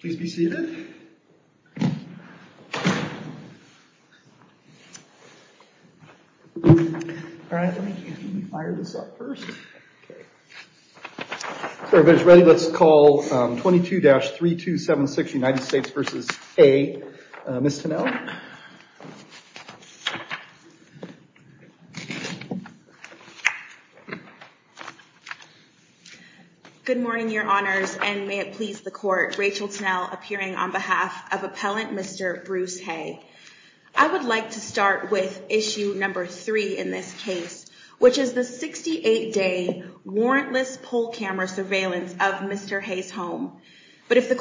Please be seated. All right, let me fire this up first. Everybody's ready? Let's call 22-3276 United States v. Hay, Ms. Tennell. Good morning, Your Honors, and may it please the Court, Rachel Tennell appearing on behalf of Appellant Mr. Bruce Hay. I would like to start with issue number three in this case, which is the 68-day warrantless poll camera surveillance of Mr. Hay's home. But if the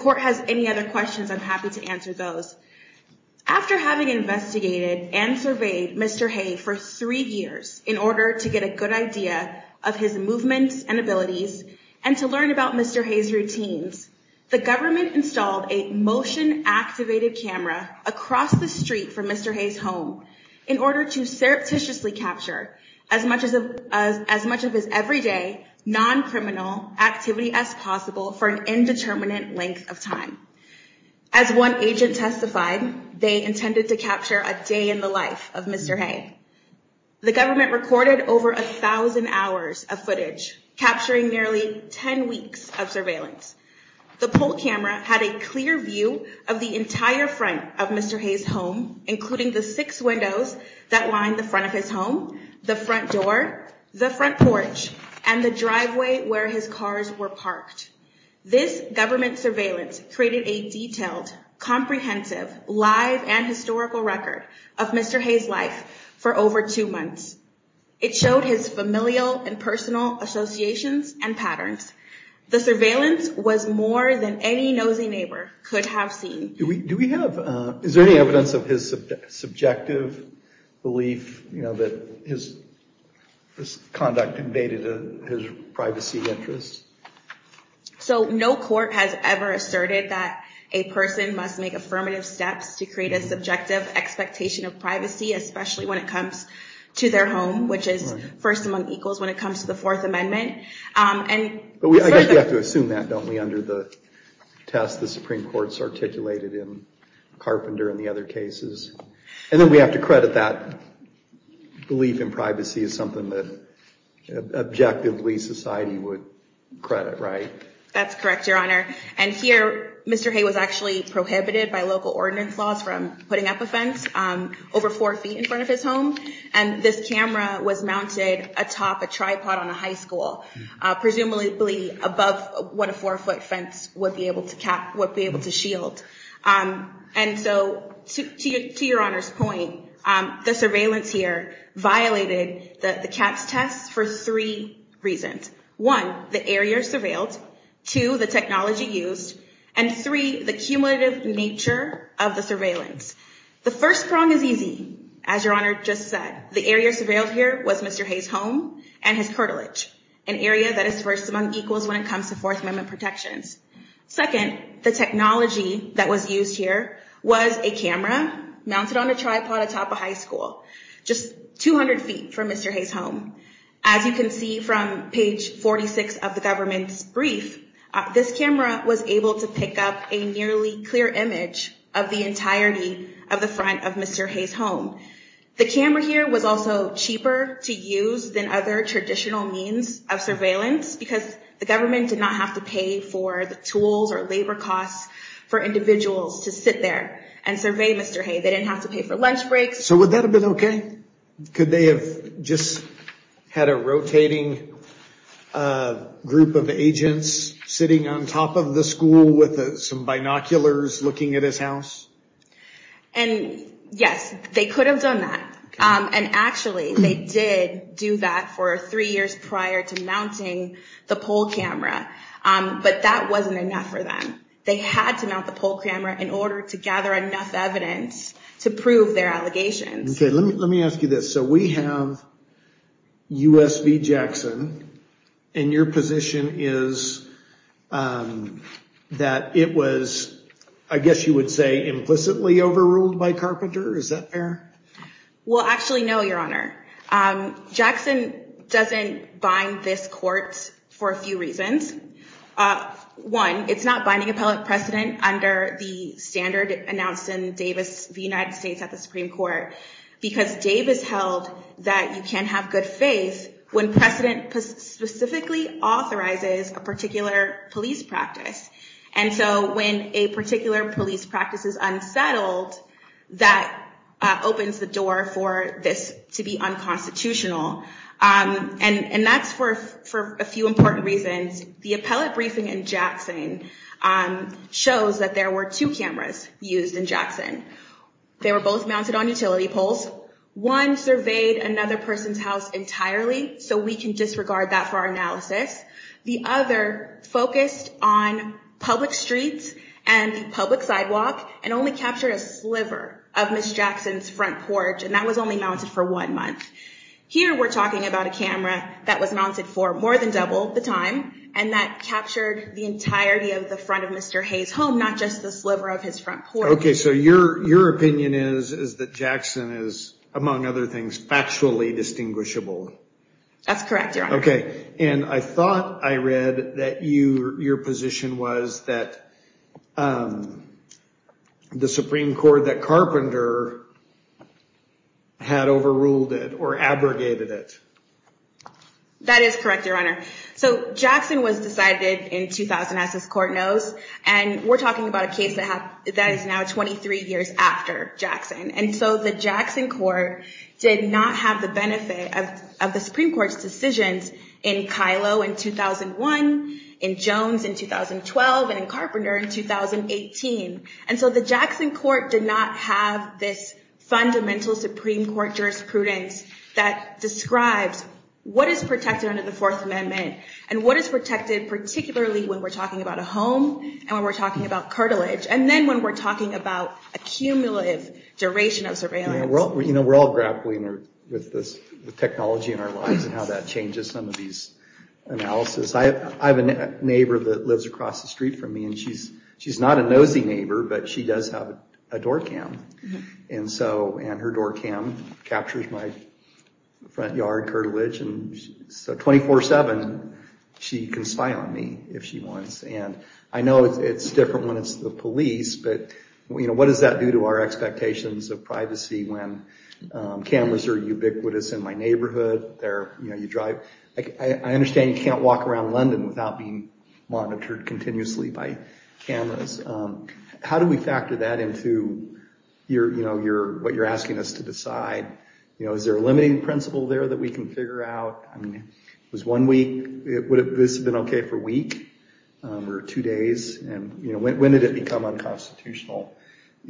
After having investigated and surveyed Mr. Hay for three years in order to get a good idea of his movements and abilities and to learn about Mr. Hay's routines, the government installed a motion-activated camera across the street from Mr. Hay's home in order to surreptitiously capture as much of his everyday non-criminal activity as possible for an intended-to-capture-a-day-in-the-life of Mr. Hay. The government recorded over a thousand hours of footage, capturing nearly ten weeks of surveillance. The poll camera had a clear view of the entire front of Mr. Hay's home, including the six windows that line the front of his home, the front door, the front porch, and the driveway where his cars were parked. This government surveillance created a detailed, comprehensive, live and historical record of Mr. Hay's life for over two months. It showed his familial and personal associations and patterns. The surveillance was more than any nosy neighbor could have seen. Do we have, is there any evidence of his subjective belief that his conduct invaded his privacy interests? So no court has ever asserted that a person must make affirmative steps to create a subjective expectation of privacy, especially when it comes to their home, which is first among equals when it comes to the Fourth Amendment. I guess we have to assume that, don't we, under the test the Supreme Court's articulated in Carpenter and the other cases. And then we have to credit that belief in privacy as something that objectively society would credit, right? That's correct, Your Honor. And here, Mr. Hay was actually prohibited by local ordinance laws from putting up a fence over four feet in front of his home. And this camera was mounted atop a tripod on a high school, presumably above what a four-foot fence would be able to shield. And so, to Your Honor's point, the surveillance here violated the CAPS test for three reasons. One, the area surveilled. Two, the technology used. And three, the cumulative nature of the surveillance. The first prong is easy, as Your Honor just said. The area surveilled here was Mr. Hay's home and his curtilage, an area that is first among equals when it comes to Fourth Amendment protections. Second, the technology that was used here was a camera mounted on a tripod atop a high school, just 200 feet from Mr. Hay's home. As you can see from page 46 of the government's brief, this camera was able to pick up a nearly clear image of the entirety of the front of Mr. Hay's home. The camera here was also cheaper to use than other traditional means of surveillance because the government did not have to pay for the tools or labor costs for individuals to sit there and survey Mr. Hay. They didn't have to pay for lunch breaks. So would that have been okay? Could they have just had a rotating group of agents sitting on top of the school with some binoculars looking at his house? And yes, they could have done that. And actually, they did do that for three years prior to mounting the poll camera. But that wasn't enough for them. They had to mount the poll evidence to prove their allegations. Okay, let me ask you this. So we have U.S. v. Jackson, and your position is that it was, I guess you would say, implicitly overruled by Carpenter? Is that fair? Well, actually, no, Your Honor. Jackson doesn't bind this court for a few reasons. One, it's not binding appellate precedent under the standard announced in Davis v. United States at the Supreme Court because Davis held that you can't have good faith when precedent specifically authorizes a particular police practice. And so when a particular police practice is unsettled, that opens the door for this to be unconstitutional. And that's for a few important reasons. The first one shows that there were two cameras used in Jackson. They were both mounted on utility poles. One surveyed another person's house entirely, so we can disregard that for our analysis. The other focused on public streets and the public sidewalk, and only captured a sliver of Ms. Jackson's front porch, and that was only mounted for one month. Here we're talking about a camera that was mounted for more than double the time, and that captured the entirety of the front of Mr. Hayes' home, not just the sliver of his front porch. Okay, so your opinion is that Jackson is, among other things, factually distinguishable. That's correct, Your Honor. And I thought I read that your position was that the Supreme Court, that Carpenter had overruled it or abrogated it. That is correct, Your Honor. So Jackson was decided in 2000, as this Court knows, and we're talking about a case that is now 23 years after Jackson. And so the Jackson Court did not have the benefit of the Supreme Court's decisions in Kylo in 2001, in Jones in 2012, and in Carpenter in 2018. And so the Jackson Court did not have this fundamental Supreme Court jurisprudence that describes what is protected under the Fourth Amendment, and what is protected, particularly when we're talking about a home, and when we're talking about cartilage, and then when we're talking about a cumulative duration of surveillance. We're all grappling with the technology in our lives and how that changes some of these analysis. I have a neighbor that lives across the street from me, and she's not a nosy neighbor, but she does have a door cam. And so, and her door cam captures my front yard cartilage, and so 24-7 she can spy on me if she wants. And I know it's different when it's the police, but what does that do to our expectations of privacy when cameras are ubiquitous in my neighborhood? I understand you can't walk around London without being monitored continuously by cameras. How do we factor that into what you're asking us to decide? Is there a limiting principle there that we can figure out? I mean, was one week, would this have been okay for a week or two days? And when did it become unconstitutional?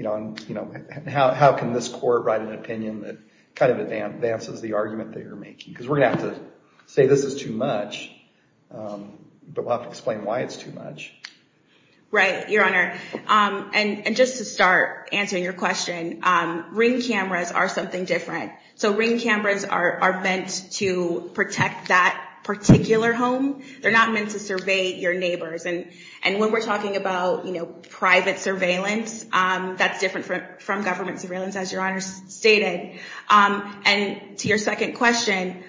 How can this court write an opinion that kind of advances the argument that you're making? Because we're going to have to say this is too much, but we'll have to explain why it's too much. Right, Your Honor. And just to start answering your question, ring cameras are something different. So ring cameras are meant to protect that particular home. They're not meant to survey your neighbors. And when we're talking about private surveillance, that's different from government surveillance, as Your Honor stated. And to your second question,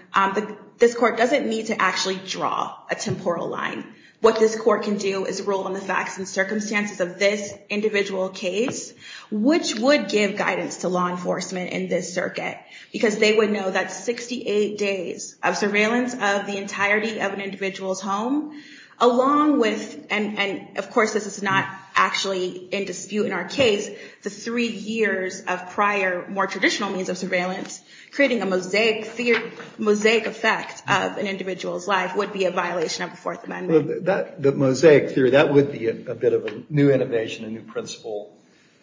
this court doesn't need to actually draw a temporal line. What this court can do is rule on the facts and circumstances of this individual case, which would give guidance to law enforcement in this circuit, because they would know that 68 days of surveillance of the entirety of an individual's home, along with, and of course this is not actually in dispute in our case, the three years of prior, more traditional means of surveillance, creating a mosaic effect of an individual's life would be a violation of the Fourth Amendment. The mosaic theory, that would be a bit of a new innovation, a new principle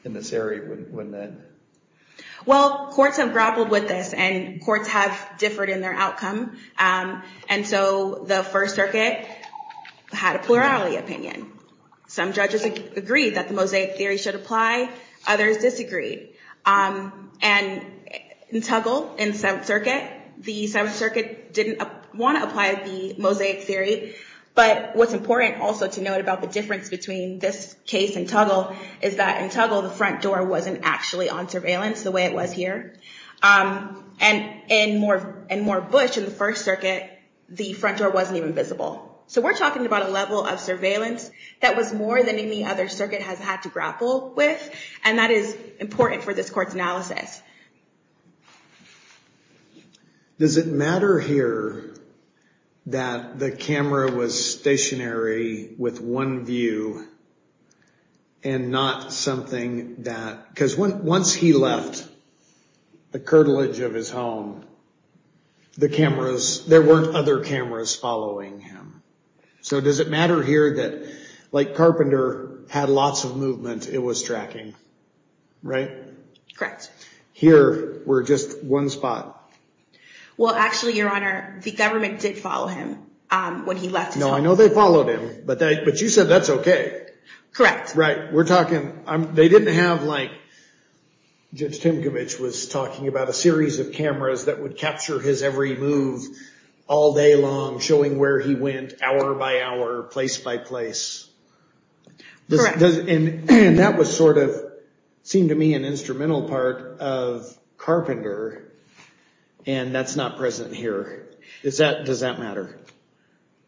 in this area, wouldn't it? Well, courts have grappled with this, and courts have differed in their outcome. And so the First Circuit had a plurality opinion. Some judges agreed that the mosaic theory should apply. Others disagreed. And in Tuggle, in Seventh Circuit, the Seventh Circuit didn't want to apply the mosaic theory. But what's important also to note about the difference between this case and Tuggle is that in Tuggle, the front door wasn't actually on surveillance the way it was here. And in Moore Bush, in the First Circuit, the front door wasn't even visible. So we're talking about a level of surveillance that was more than any other circuit has had to grapple with. And that is important for this court's analysis. Does it matter here that the camera was stationary with one view and not something that, because once he left the curtilage of his home, the cameras, there weren't other cameras following him? So does it matter here that, like Carpenter had lots of movement, it was tracking, right? Correct. Here we're just one spot. Well, actually, Your Honor, the government did follow him when he left his home. No, I know they followed him, but you said that's okay. Correct. Right. We're talking, they didn't have like, Judge Timkovich was talking about a series of cameras that would capture his every move all day long, showing where he went hour by hour, place by place. Correct. And that was sort of, seemed to me, an instrumental part of Carpenter, and that's not present here. Does that matter?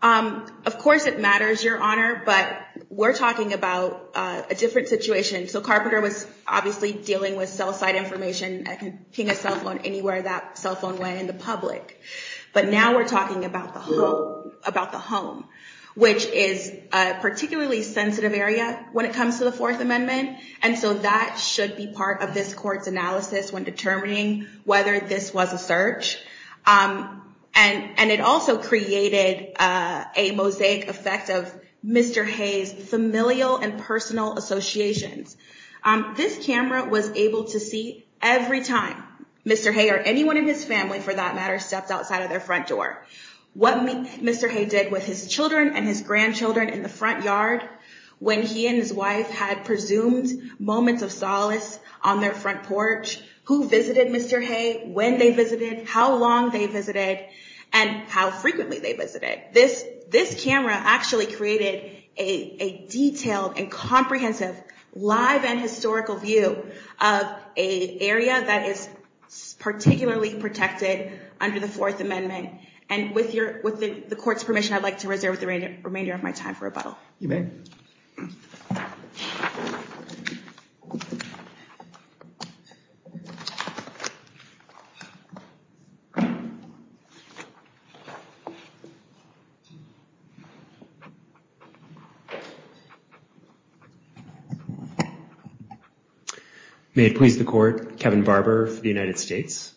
Of course it matters, Your Honor, but we're talking about a different situation. So Carpenter was obviously dealing with cell site information, ping a cell phone anywhere that cell phone went in the public. But now we're talking about the home, which is a particularly sensitive area when it comes to the Fourth Amendment, and so that should be part of this Court's analysis when determining whether this was a search. And it also created a mosaic effect of Mr. Hayes' familial and personal associations. This camera was able to see every time Mr. Hayes or anyone in his family, for that matter, stepped outside of their front door. What Mr. Hayes did with his children and his grandchildren in the front yard when he and his wife had presumed moments of solace on their front porch, who visited Mr. Hayes, when they visited, how long they visited, and how frequently they visited. This camera actually created a detailed and comprehensive live and historical view of an area that is particularly protected under the Fourth Amendment. And with the Court's permission, I'd like to reserve the remainder of my time for rebuttal. May it please the Court. Kevin Barber for the United States.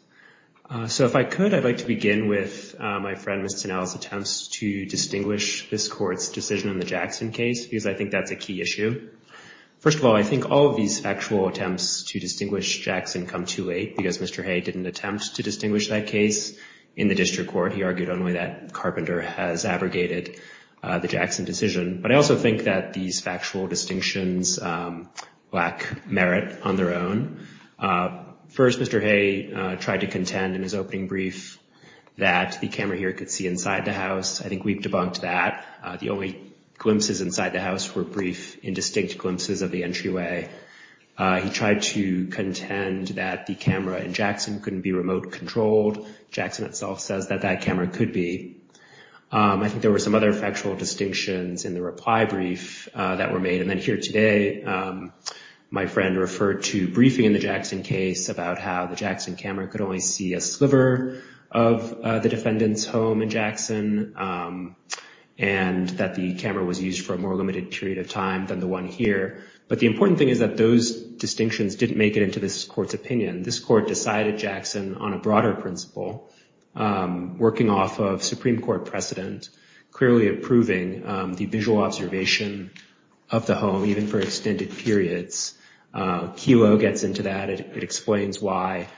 So if I could, I'd like to begin with my friend, Mr. Tanel's, attempts to distinguish this Court's decision on the Jackson case, because I think that's a key issue. First of all, I think all of these factual attempts to distinguish Jackson come too late, because Mr. Hayes didn't attempt to distinguish that case in the district court. He argued only that Carpenter has abrogated the Jackson decision. But I also think that these factual distinctions lack merit on their own. First, Mr. Hayes tried to contend in his opening brief that the camera here could see inside the house. I think we've debunked that. The only glimpses inside the house were brief, indistinct glimpses of the entryway. He tried to contend that the camera in Jackson couldn't be remote controlled. Jackson itself says that that camera could be. I think there were some other factual distinctions in the reply brief that were made. And then here today, my friend referred to briefing in the Jackson case about how the Jackson camera could only see a sliver of the defendant's home in Jackson, and that the camera was used for a more limited period of time than the one here. But the important thing is that those distinctions didn't make it into this court's opinion. This court decided Jackson on a broader principle, working off of Supreme Court precedent, clearly approving the visual observation of the home, even for extended periods. Kelo gets into that. It explains why,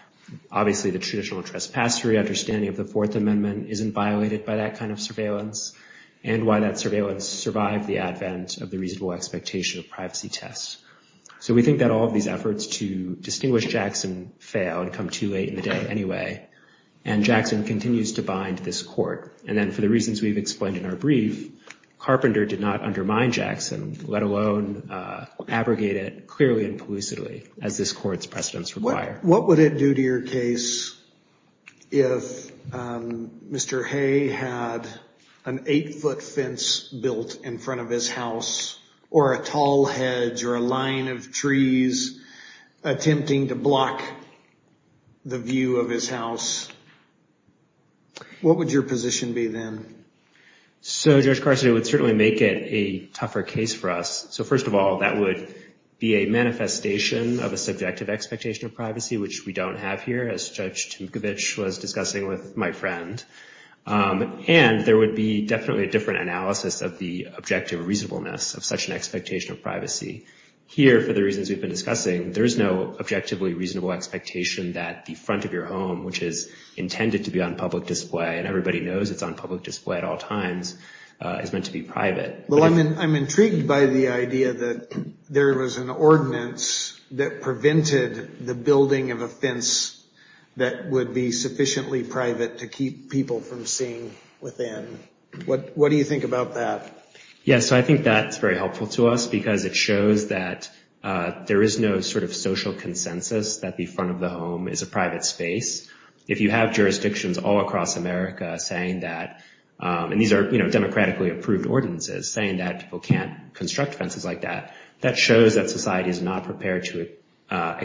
obviously, the traditional trespassory understanding of the Fourth Amendment isn't violated by that kind of surveillance, and why that surveillance survived the advent of the reasonable expectation of privacy tests. So we think that all of these efforts to distinguish Jackson fail and come too late in the day anyway, and Jackson continues to bind this court. And then for the reasons we've explained in our brief, Carpenter did not undermine Jackson, let alone abrogate it clearly and plucidly, as this court's precedents require. What would it do to your case if Mr. Hay had an eight-foot fence built in front of his house, or a tall hedge, or a line of trees attempting to block the view of his house? What would your position be then? So, Judge Carson, it would certainly make it a tougher case for us. So first of all, that would be a manifestation of a subjective expectation of privacy, which we don't have here, as Judge Tinkovich was discussing with my friend. And there would be definitely a different analysis of the objective reasonableness of such an expectation of privacy. Here, for the reasons we've been discussing, there's no objectively reasonable expectation that the front of your home, which is intended to be on public display, and everybody knows it's on public display at all times, is meant to be private. Well, I'm intrigued by the idea that there was an ordinance that prevented the building of a fence that would be sufficiently private to keep people from seeing within. What do you think about that? Yes, I think that's very helpful to us because it shows that there is no sort of social consensus that the front of the home is a private space. If you have jurisdictions all across America saying that, and these are democratically approved ordinances, saying that people can't construct fences like that, that shows that there is no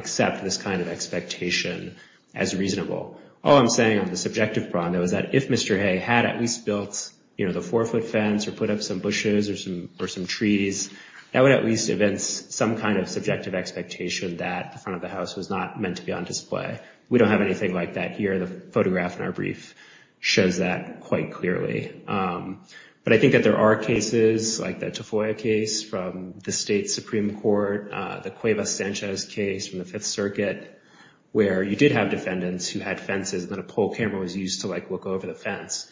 such expectation as reasonable. All I'm saying on the subjective front is that if Mr. Hay had at least built the four-foot fence or put up some bushes or some trees, that would at least evince some kind of subjective expectation that the front of the house was not meant to be on display. We don't have anything like that here. The photograph in our brief shows that quite clearly. But I think that there are cases like the Tafoya case from the state Supreme Court, the Cuevas-Sanchez case from the Fifth Circuit, where you did have defendants who had fences and then a pole camera was used to look over the fence.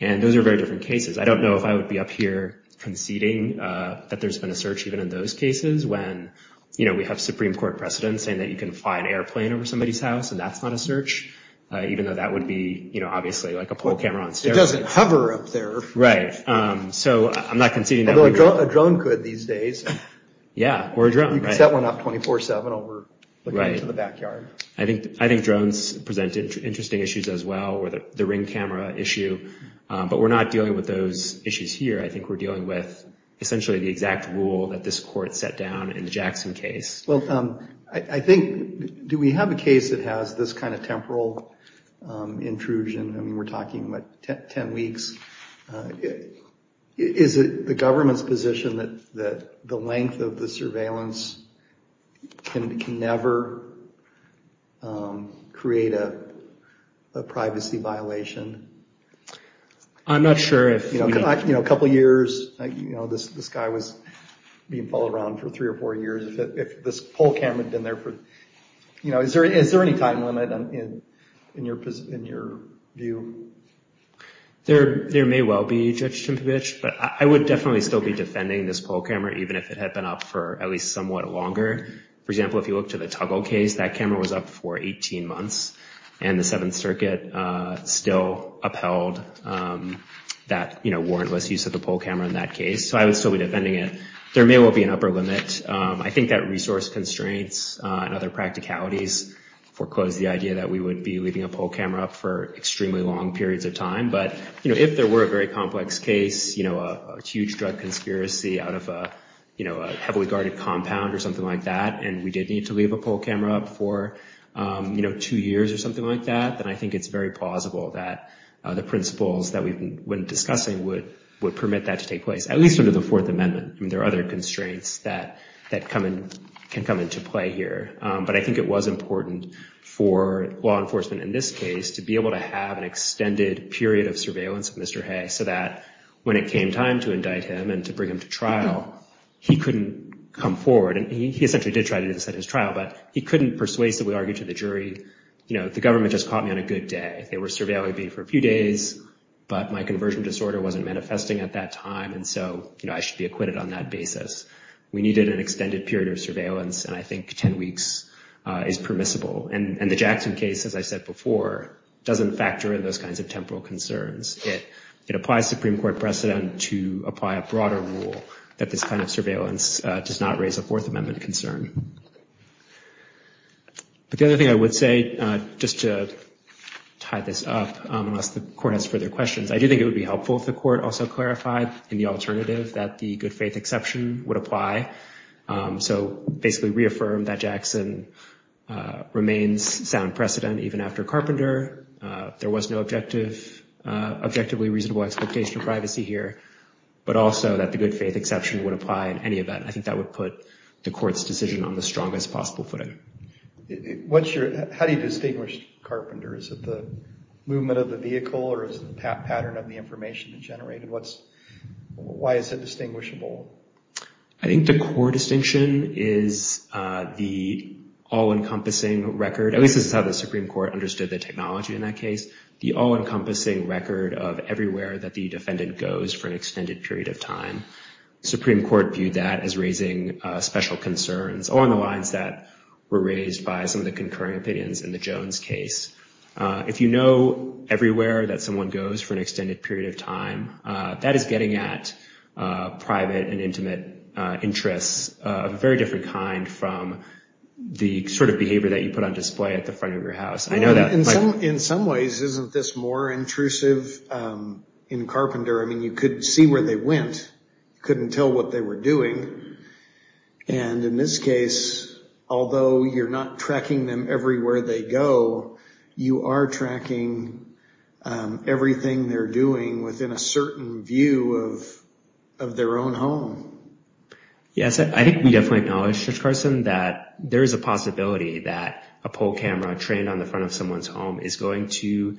And those are very different cases. I don't know if I would be up here conceding that there's been a search even in those cases when we have Supreme Court precedent saying that you can fly an airplane over somebody's house and that's not a search, even though that would be obviously like a pole camera on steroids. It doesn't hover up there. So I'm not conceding that. Although a drone could these days. Yeah, or a drone. You could set one up 24-7 over the backyard. I think drones present interesting issues as well, or the ring camera issue. But we're not dealing with those issues here. I think we're dealing with essentially the exact rule that this court set down in the Jackson case. Well, I think, do we have a case that has this kind of temporal intrusion? I mean, we're talking about 10 weeks. Is it the government's position that the length of the surveillance can never create a privacy violation? I'm not sure. A couple years, this guy was being followed around for three or four years. If this pole camera is up, is there any time limit in your view? There may well be, Judge Cimprovich, but I would definitely still be defending this pole camera, even if it had been up for at least somewhat longer. For example, if you look to the Tuggle case, that camera was up for 18 months and the Seventh Circuit still upheld that warrantless use of the pole camera in that case. So I would still be defending it. There may well be an upper limit. I think that resource constraints and other practicalities foreclose the idea that we would be leaving a pole camera up for extremely long periods of time. But if there were a very complex case, a huge drug conspiracy out of a heavily guarded compound or something like that, and we did need to leave a pole camera up for two years or something like that, then I think it's very plausible that the principles that we've been discussing would permit that to take place, at least under the Fourth Amendment. I mean, there are other I think it was important for law enforcement in this case to be able to have an extended period of surveillance of Mr. Hay so that when it came time to indict him and to bring him to trial, he couldn't come forward. And he essentially did try to do this at his trial, but he couldn't persuasively argue to the jury, you know, the government just caught me on a good day. They were surveilling me for a few days, but my conversion disorder wasn't manifesting at that time. And so, you know, I should be acquitted on that basis. We needed an extended period of surveillance. And I think that is permissible. And the Jackson case, as I said before, doesn't factor in those kinds of temporal concerns. It applies Supreme Court precedent to apply a broader rule that this kind of surveillance does not raise a Fourth Amendment concern. But the other thing I would say, just to tie this up, unless the court has further questions, I do think it would be helpful if the court also clarified in the alternative that the good faith exception would apply. So basically reaffirm that remains sound precedent even after Carpenter. There was no objective, objectively reasonable expectation of privacy here, but also that the good faith exception would apply in any event. I think that would put the court's decision on the strongest possible footing. What's your, how do you distinguish Carpenter? Is it the movement of the vehicle or is it the pattern of the information that generated? What's, why is it distinguishable? I think the core distinction is the all-encompassing record, at least this is how the Supreme Court understood the technology in that case, the all-encompassing record of everywhere that the defendant goes for an extended period of time. Supreme Court viewed that as raising special concerns along the lines that were raised by some of the concurring opinions in the Jones case. If you know everywhere that there's an intimate interest, a very different kind from the sort of behavior that you put on display at the front of your house. I know that in some ways isn't this more intrusive in Carpenter? I mean you could see where they went, couldn't tell what they were doing. And in this case, although you're not tracking them everywhere they go, you are tracking everything they're doing within a certain view of their own home. Yes, I think we definitely acknowledge, Judge Carson, that there is a possibility that a poll camera trained on the front of someone's home is going to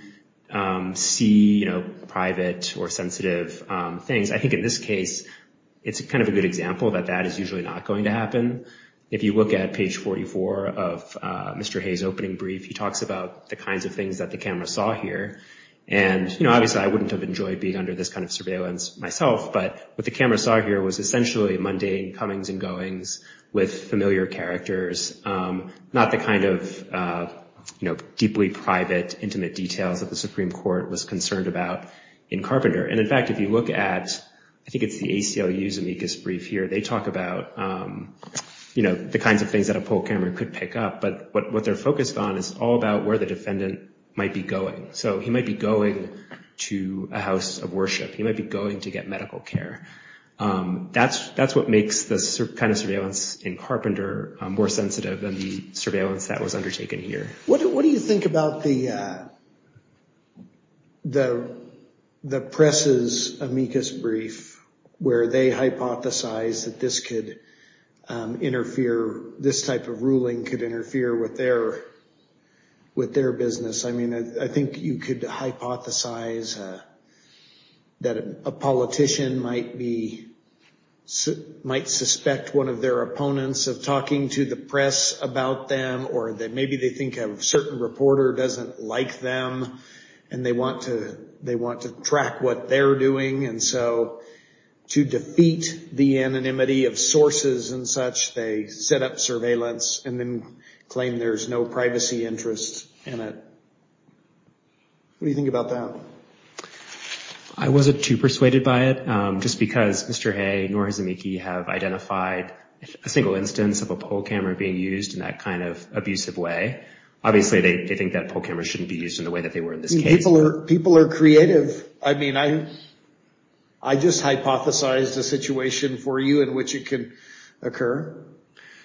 see, you know, private or sensitive things. I think in this case it's kind of a good example that that is usually not going to happen. If you look at page 44 of Mr. Hayes' opening brief, he talks about the kinds of things that the camera saw here. And, you know, obviously I wouldn't have enjoyed being under this kind of surveillance myself, but what the camera saw here was essentially mundane comings and goings with familiar characters, not the kind of, you know, deeply private intimate details that the Supreme Court was concerned about in Carpenter. And in fact, if you look at, I think it's the ACLU's amicus brief here, they talk about, you know, the kinds of things that a poll camera could pick up. But what they're focused on is all about where the defendant might be going. So he might be going to a house of worship. He might be going to get medical care. That's what makes this kind of surveillance in Carpenter more sensitive than the surveillance that was undertaken here. What do you think about the press's amicus brief where they hypothesize that this could interfere, this type of ruling could interfere with their business? I mean, I think you could hypothesize that a politician might be, might suspect one of their opponents of talking to the press about them, or that maybe they think a certain reporter doesn't like them, and they want to, they want to track what they're doing. And so to defeat the anonymity of sources and such, they set up surveillance and then claim there's no privacy interest in it. What do you think about that? I wasn't too persuaded by it. Just because Mr. Hay nor his amici have identified a single instance of a poll camera being used in that kind of abusive way. Obviously, they think that poll cameras shouldn't be used in the way that they were in this case. People are creative. I mean, I just hypothesized a situation for you in which it could occur.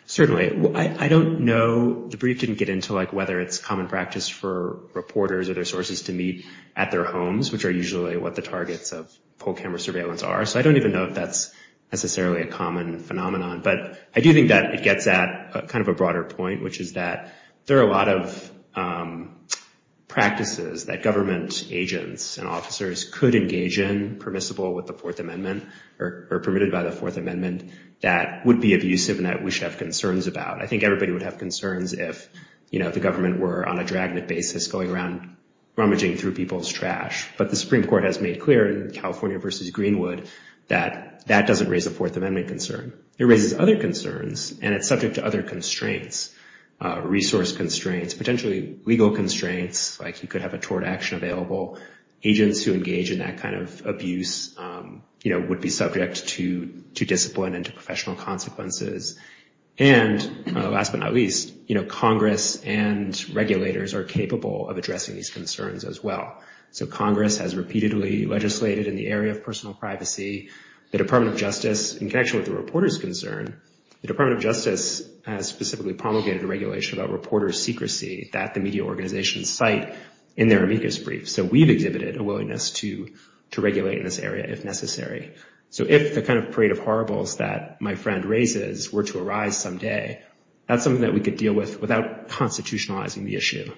Certainly. I don't know, the brief didn't get into like whether it's common practice for reporters or their sources to meet at their homes, which are usually what the targets of poll camera surveillance are. So I don't even know if that's necessarily a common phenomenon. But I do think that it gets at kind of a broader point, which is that there are a lot of practices that government agents and officers could engage in permissible with the Fourth Amendment, or permitted by the Fourth Amendment, that we should have concerns about. I think everybody would have concerns if, you know, the government were on a dragnet basis going around rummaging through people's trash. But the Supreme Court has made clear in California versus Greenwood that that doesn't raise a Fourth Amendment concern. It raises other concerns and it's subject to other constraints, resource constraints, potentially legal constraints, like you could have a tort action available. Agents who engage in that kind of abuse, you know, would be subject to discipline and to professional consequences. And last but not least, you know, Congress and regulators are capable of addressing these concerns as well. So Congress has repeatedly legislated in the area of personal privacy. The Department of Justice, in connection with the reporter's concern, the Department of Justice has specifically promulgated a regulation about reporter secrecy that the media organizations cite in their amicus brief. So we've exhibited a willingness to regulate in this area if necessary. So if the kind of parade of horribles that my friend raises were to arise someday, that's something that we could deal with without constitutionalizing the issue.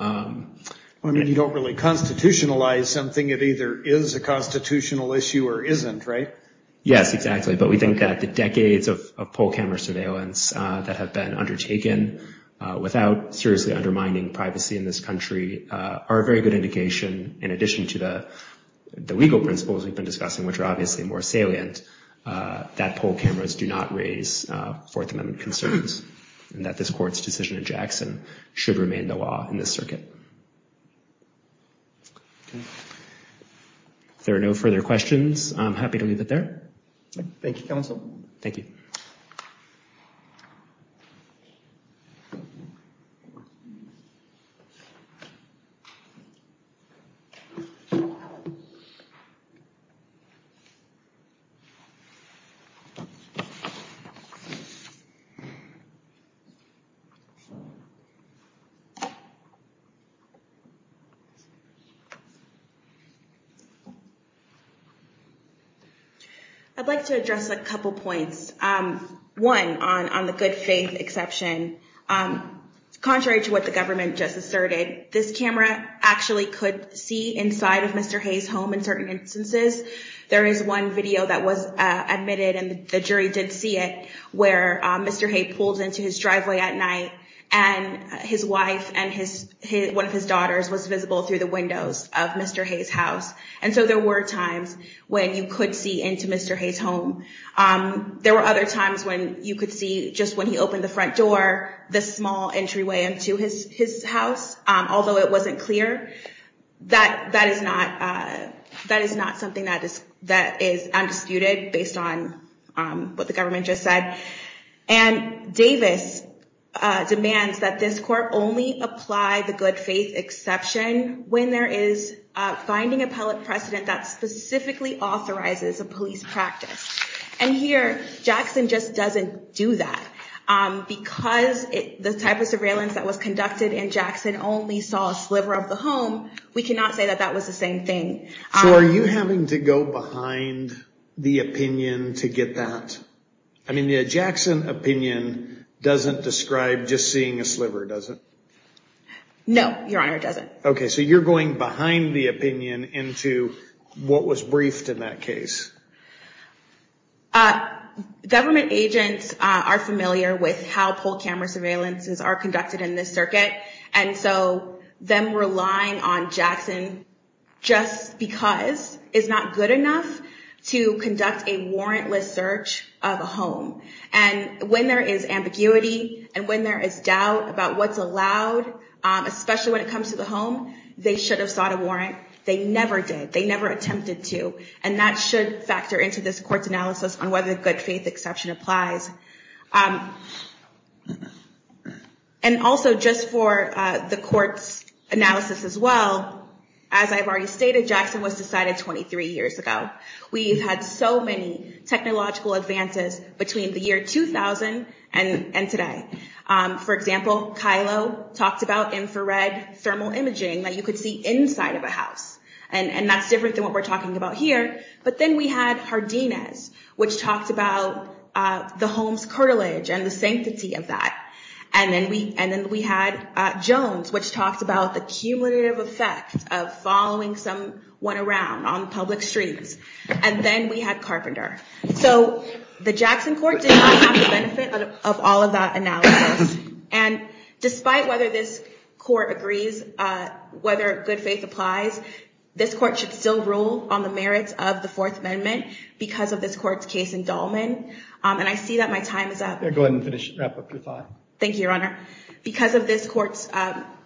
I mean, you don't really constitutionalize something. It either is a constitutional issue or isn't, right? Yes, exactly. But we think that the decades of poll camera surveillance that have been undertaken in this area, again, without seriously undermining privacy in this country, are a very good indication, in addition to the legal principles we've been discussing, which are obviously more salient, that poll cameras do not raise Fourth Amendment concerns and that this Court's decision in Jackson should remain the law in this circuit. If there are no further questions, I'm happy to leave it there. Thank you, counsel. Thank you. I'd like to address a couple points. One, on the good faith exception, contrary to what the government just asserted, this camera actually could see inside of Mr. Hayes' home in certain instances. There is one video that was admitted and the jury did see it where Mr. Hayes pulled into his driveway at night and his wife and one of his daughters was visible through the windows of Mr. Hayes' house. And so there were times when you could see into Mr. Hayes' home. There were other times when you could see, just when he opened the front door, the small entryway into his house, although it wasn't clear. That is not something that is undisputed based on what the government just said. And Davis demands that this Court only apply the good faith exception when there is a finding appellate precedent that specifically authorizes a police practice. And here, Jackson just doesn't do that. Because the type of surveillance that was conducted in Jackson only saw a sliver of the home, we cannot say that that was the same thing. So are you having to go behind the opinion to get that? I mean, the Jackson opinion doesn't describe just seeing a sliver, does it? No, Your Honor, it doesn't. Okay, so you're going behind the opinion into what was briefed in that case. Government agents are familiar with how poll camera surveillances are conducted in this circuit. And so them relying on Jackson just because is not good enough to conduct a warrantless search of a home. And when there is ambiguity and when there is doubt about what's allowed, especially when it comes to the home, they should have sought a warrant. They never did. They never attempted to. And that should factor into this Court's analysis on whether the good faith exception applies. And also just for the Court's analysis as well, as I've already stated, Jackson was decided 23 years ago. We've had so many technological advances between the year 2000 and today. For example, Kylo talked about infrared thermal imaging that you could see inside of a house. And that's different than what we're talking about here. But then we had Hardinez, which talked about the home's curtilage and the sanctity of that. And then we had Jones, which talked about the cumulative effect of following someone around on public streets. And then we had Carpenter. So the Jackson Court did not have the benefit of all of that analysis. And despite whether this Court agrees whether good faith applies, this Court should still rule on the merits of the Fourth Amendment because of this Court's case in Dahlman. And I see that my time is up. Go ahead and wrap up your time. Thank you, Your Honor. Because of this Court's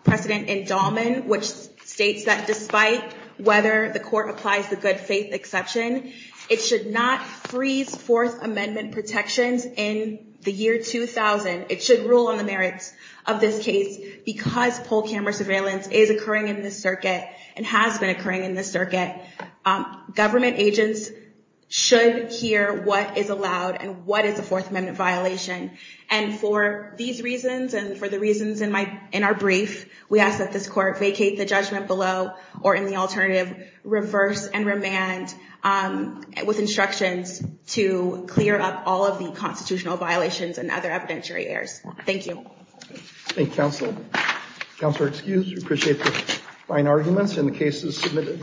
precedent in Dahlman, which states that despite whether the Court applies the good faith exception, it should not freeze Fourth Amendment protections in the year 2000. It should rule on the merits of this case because poll camera surveillance is occurring in this circuit and has been occurring in this circuit. Government agents should hear what is allowed and what is a Fourth Amendment violation. And for these reasons and for the reasons in our brief, we ask that this Court vacate the judgment below or, in the alternative, reverse and remand with instructions to clear up all of the constitutional violations and other evidentiary errors. Thank you. Thank you, counsel. Counselor, excused. We appreciate the fine arguments and the cases submitted.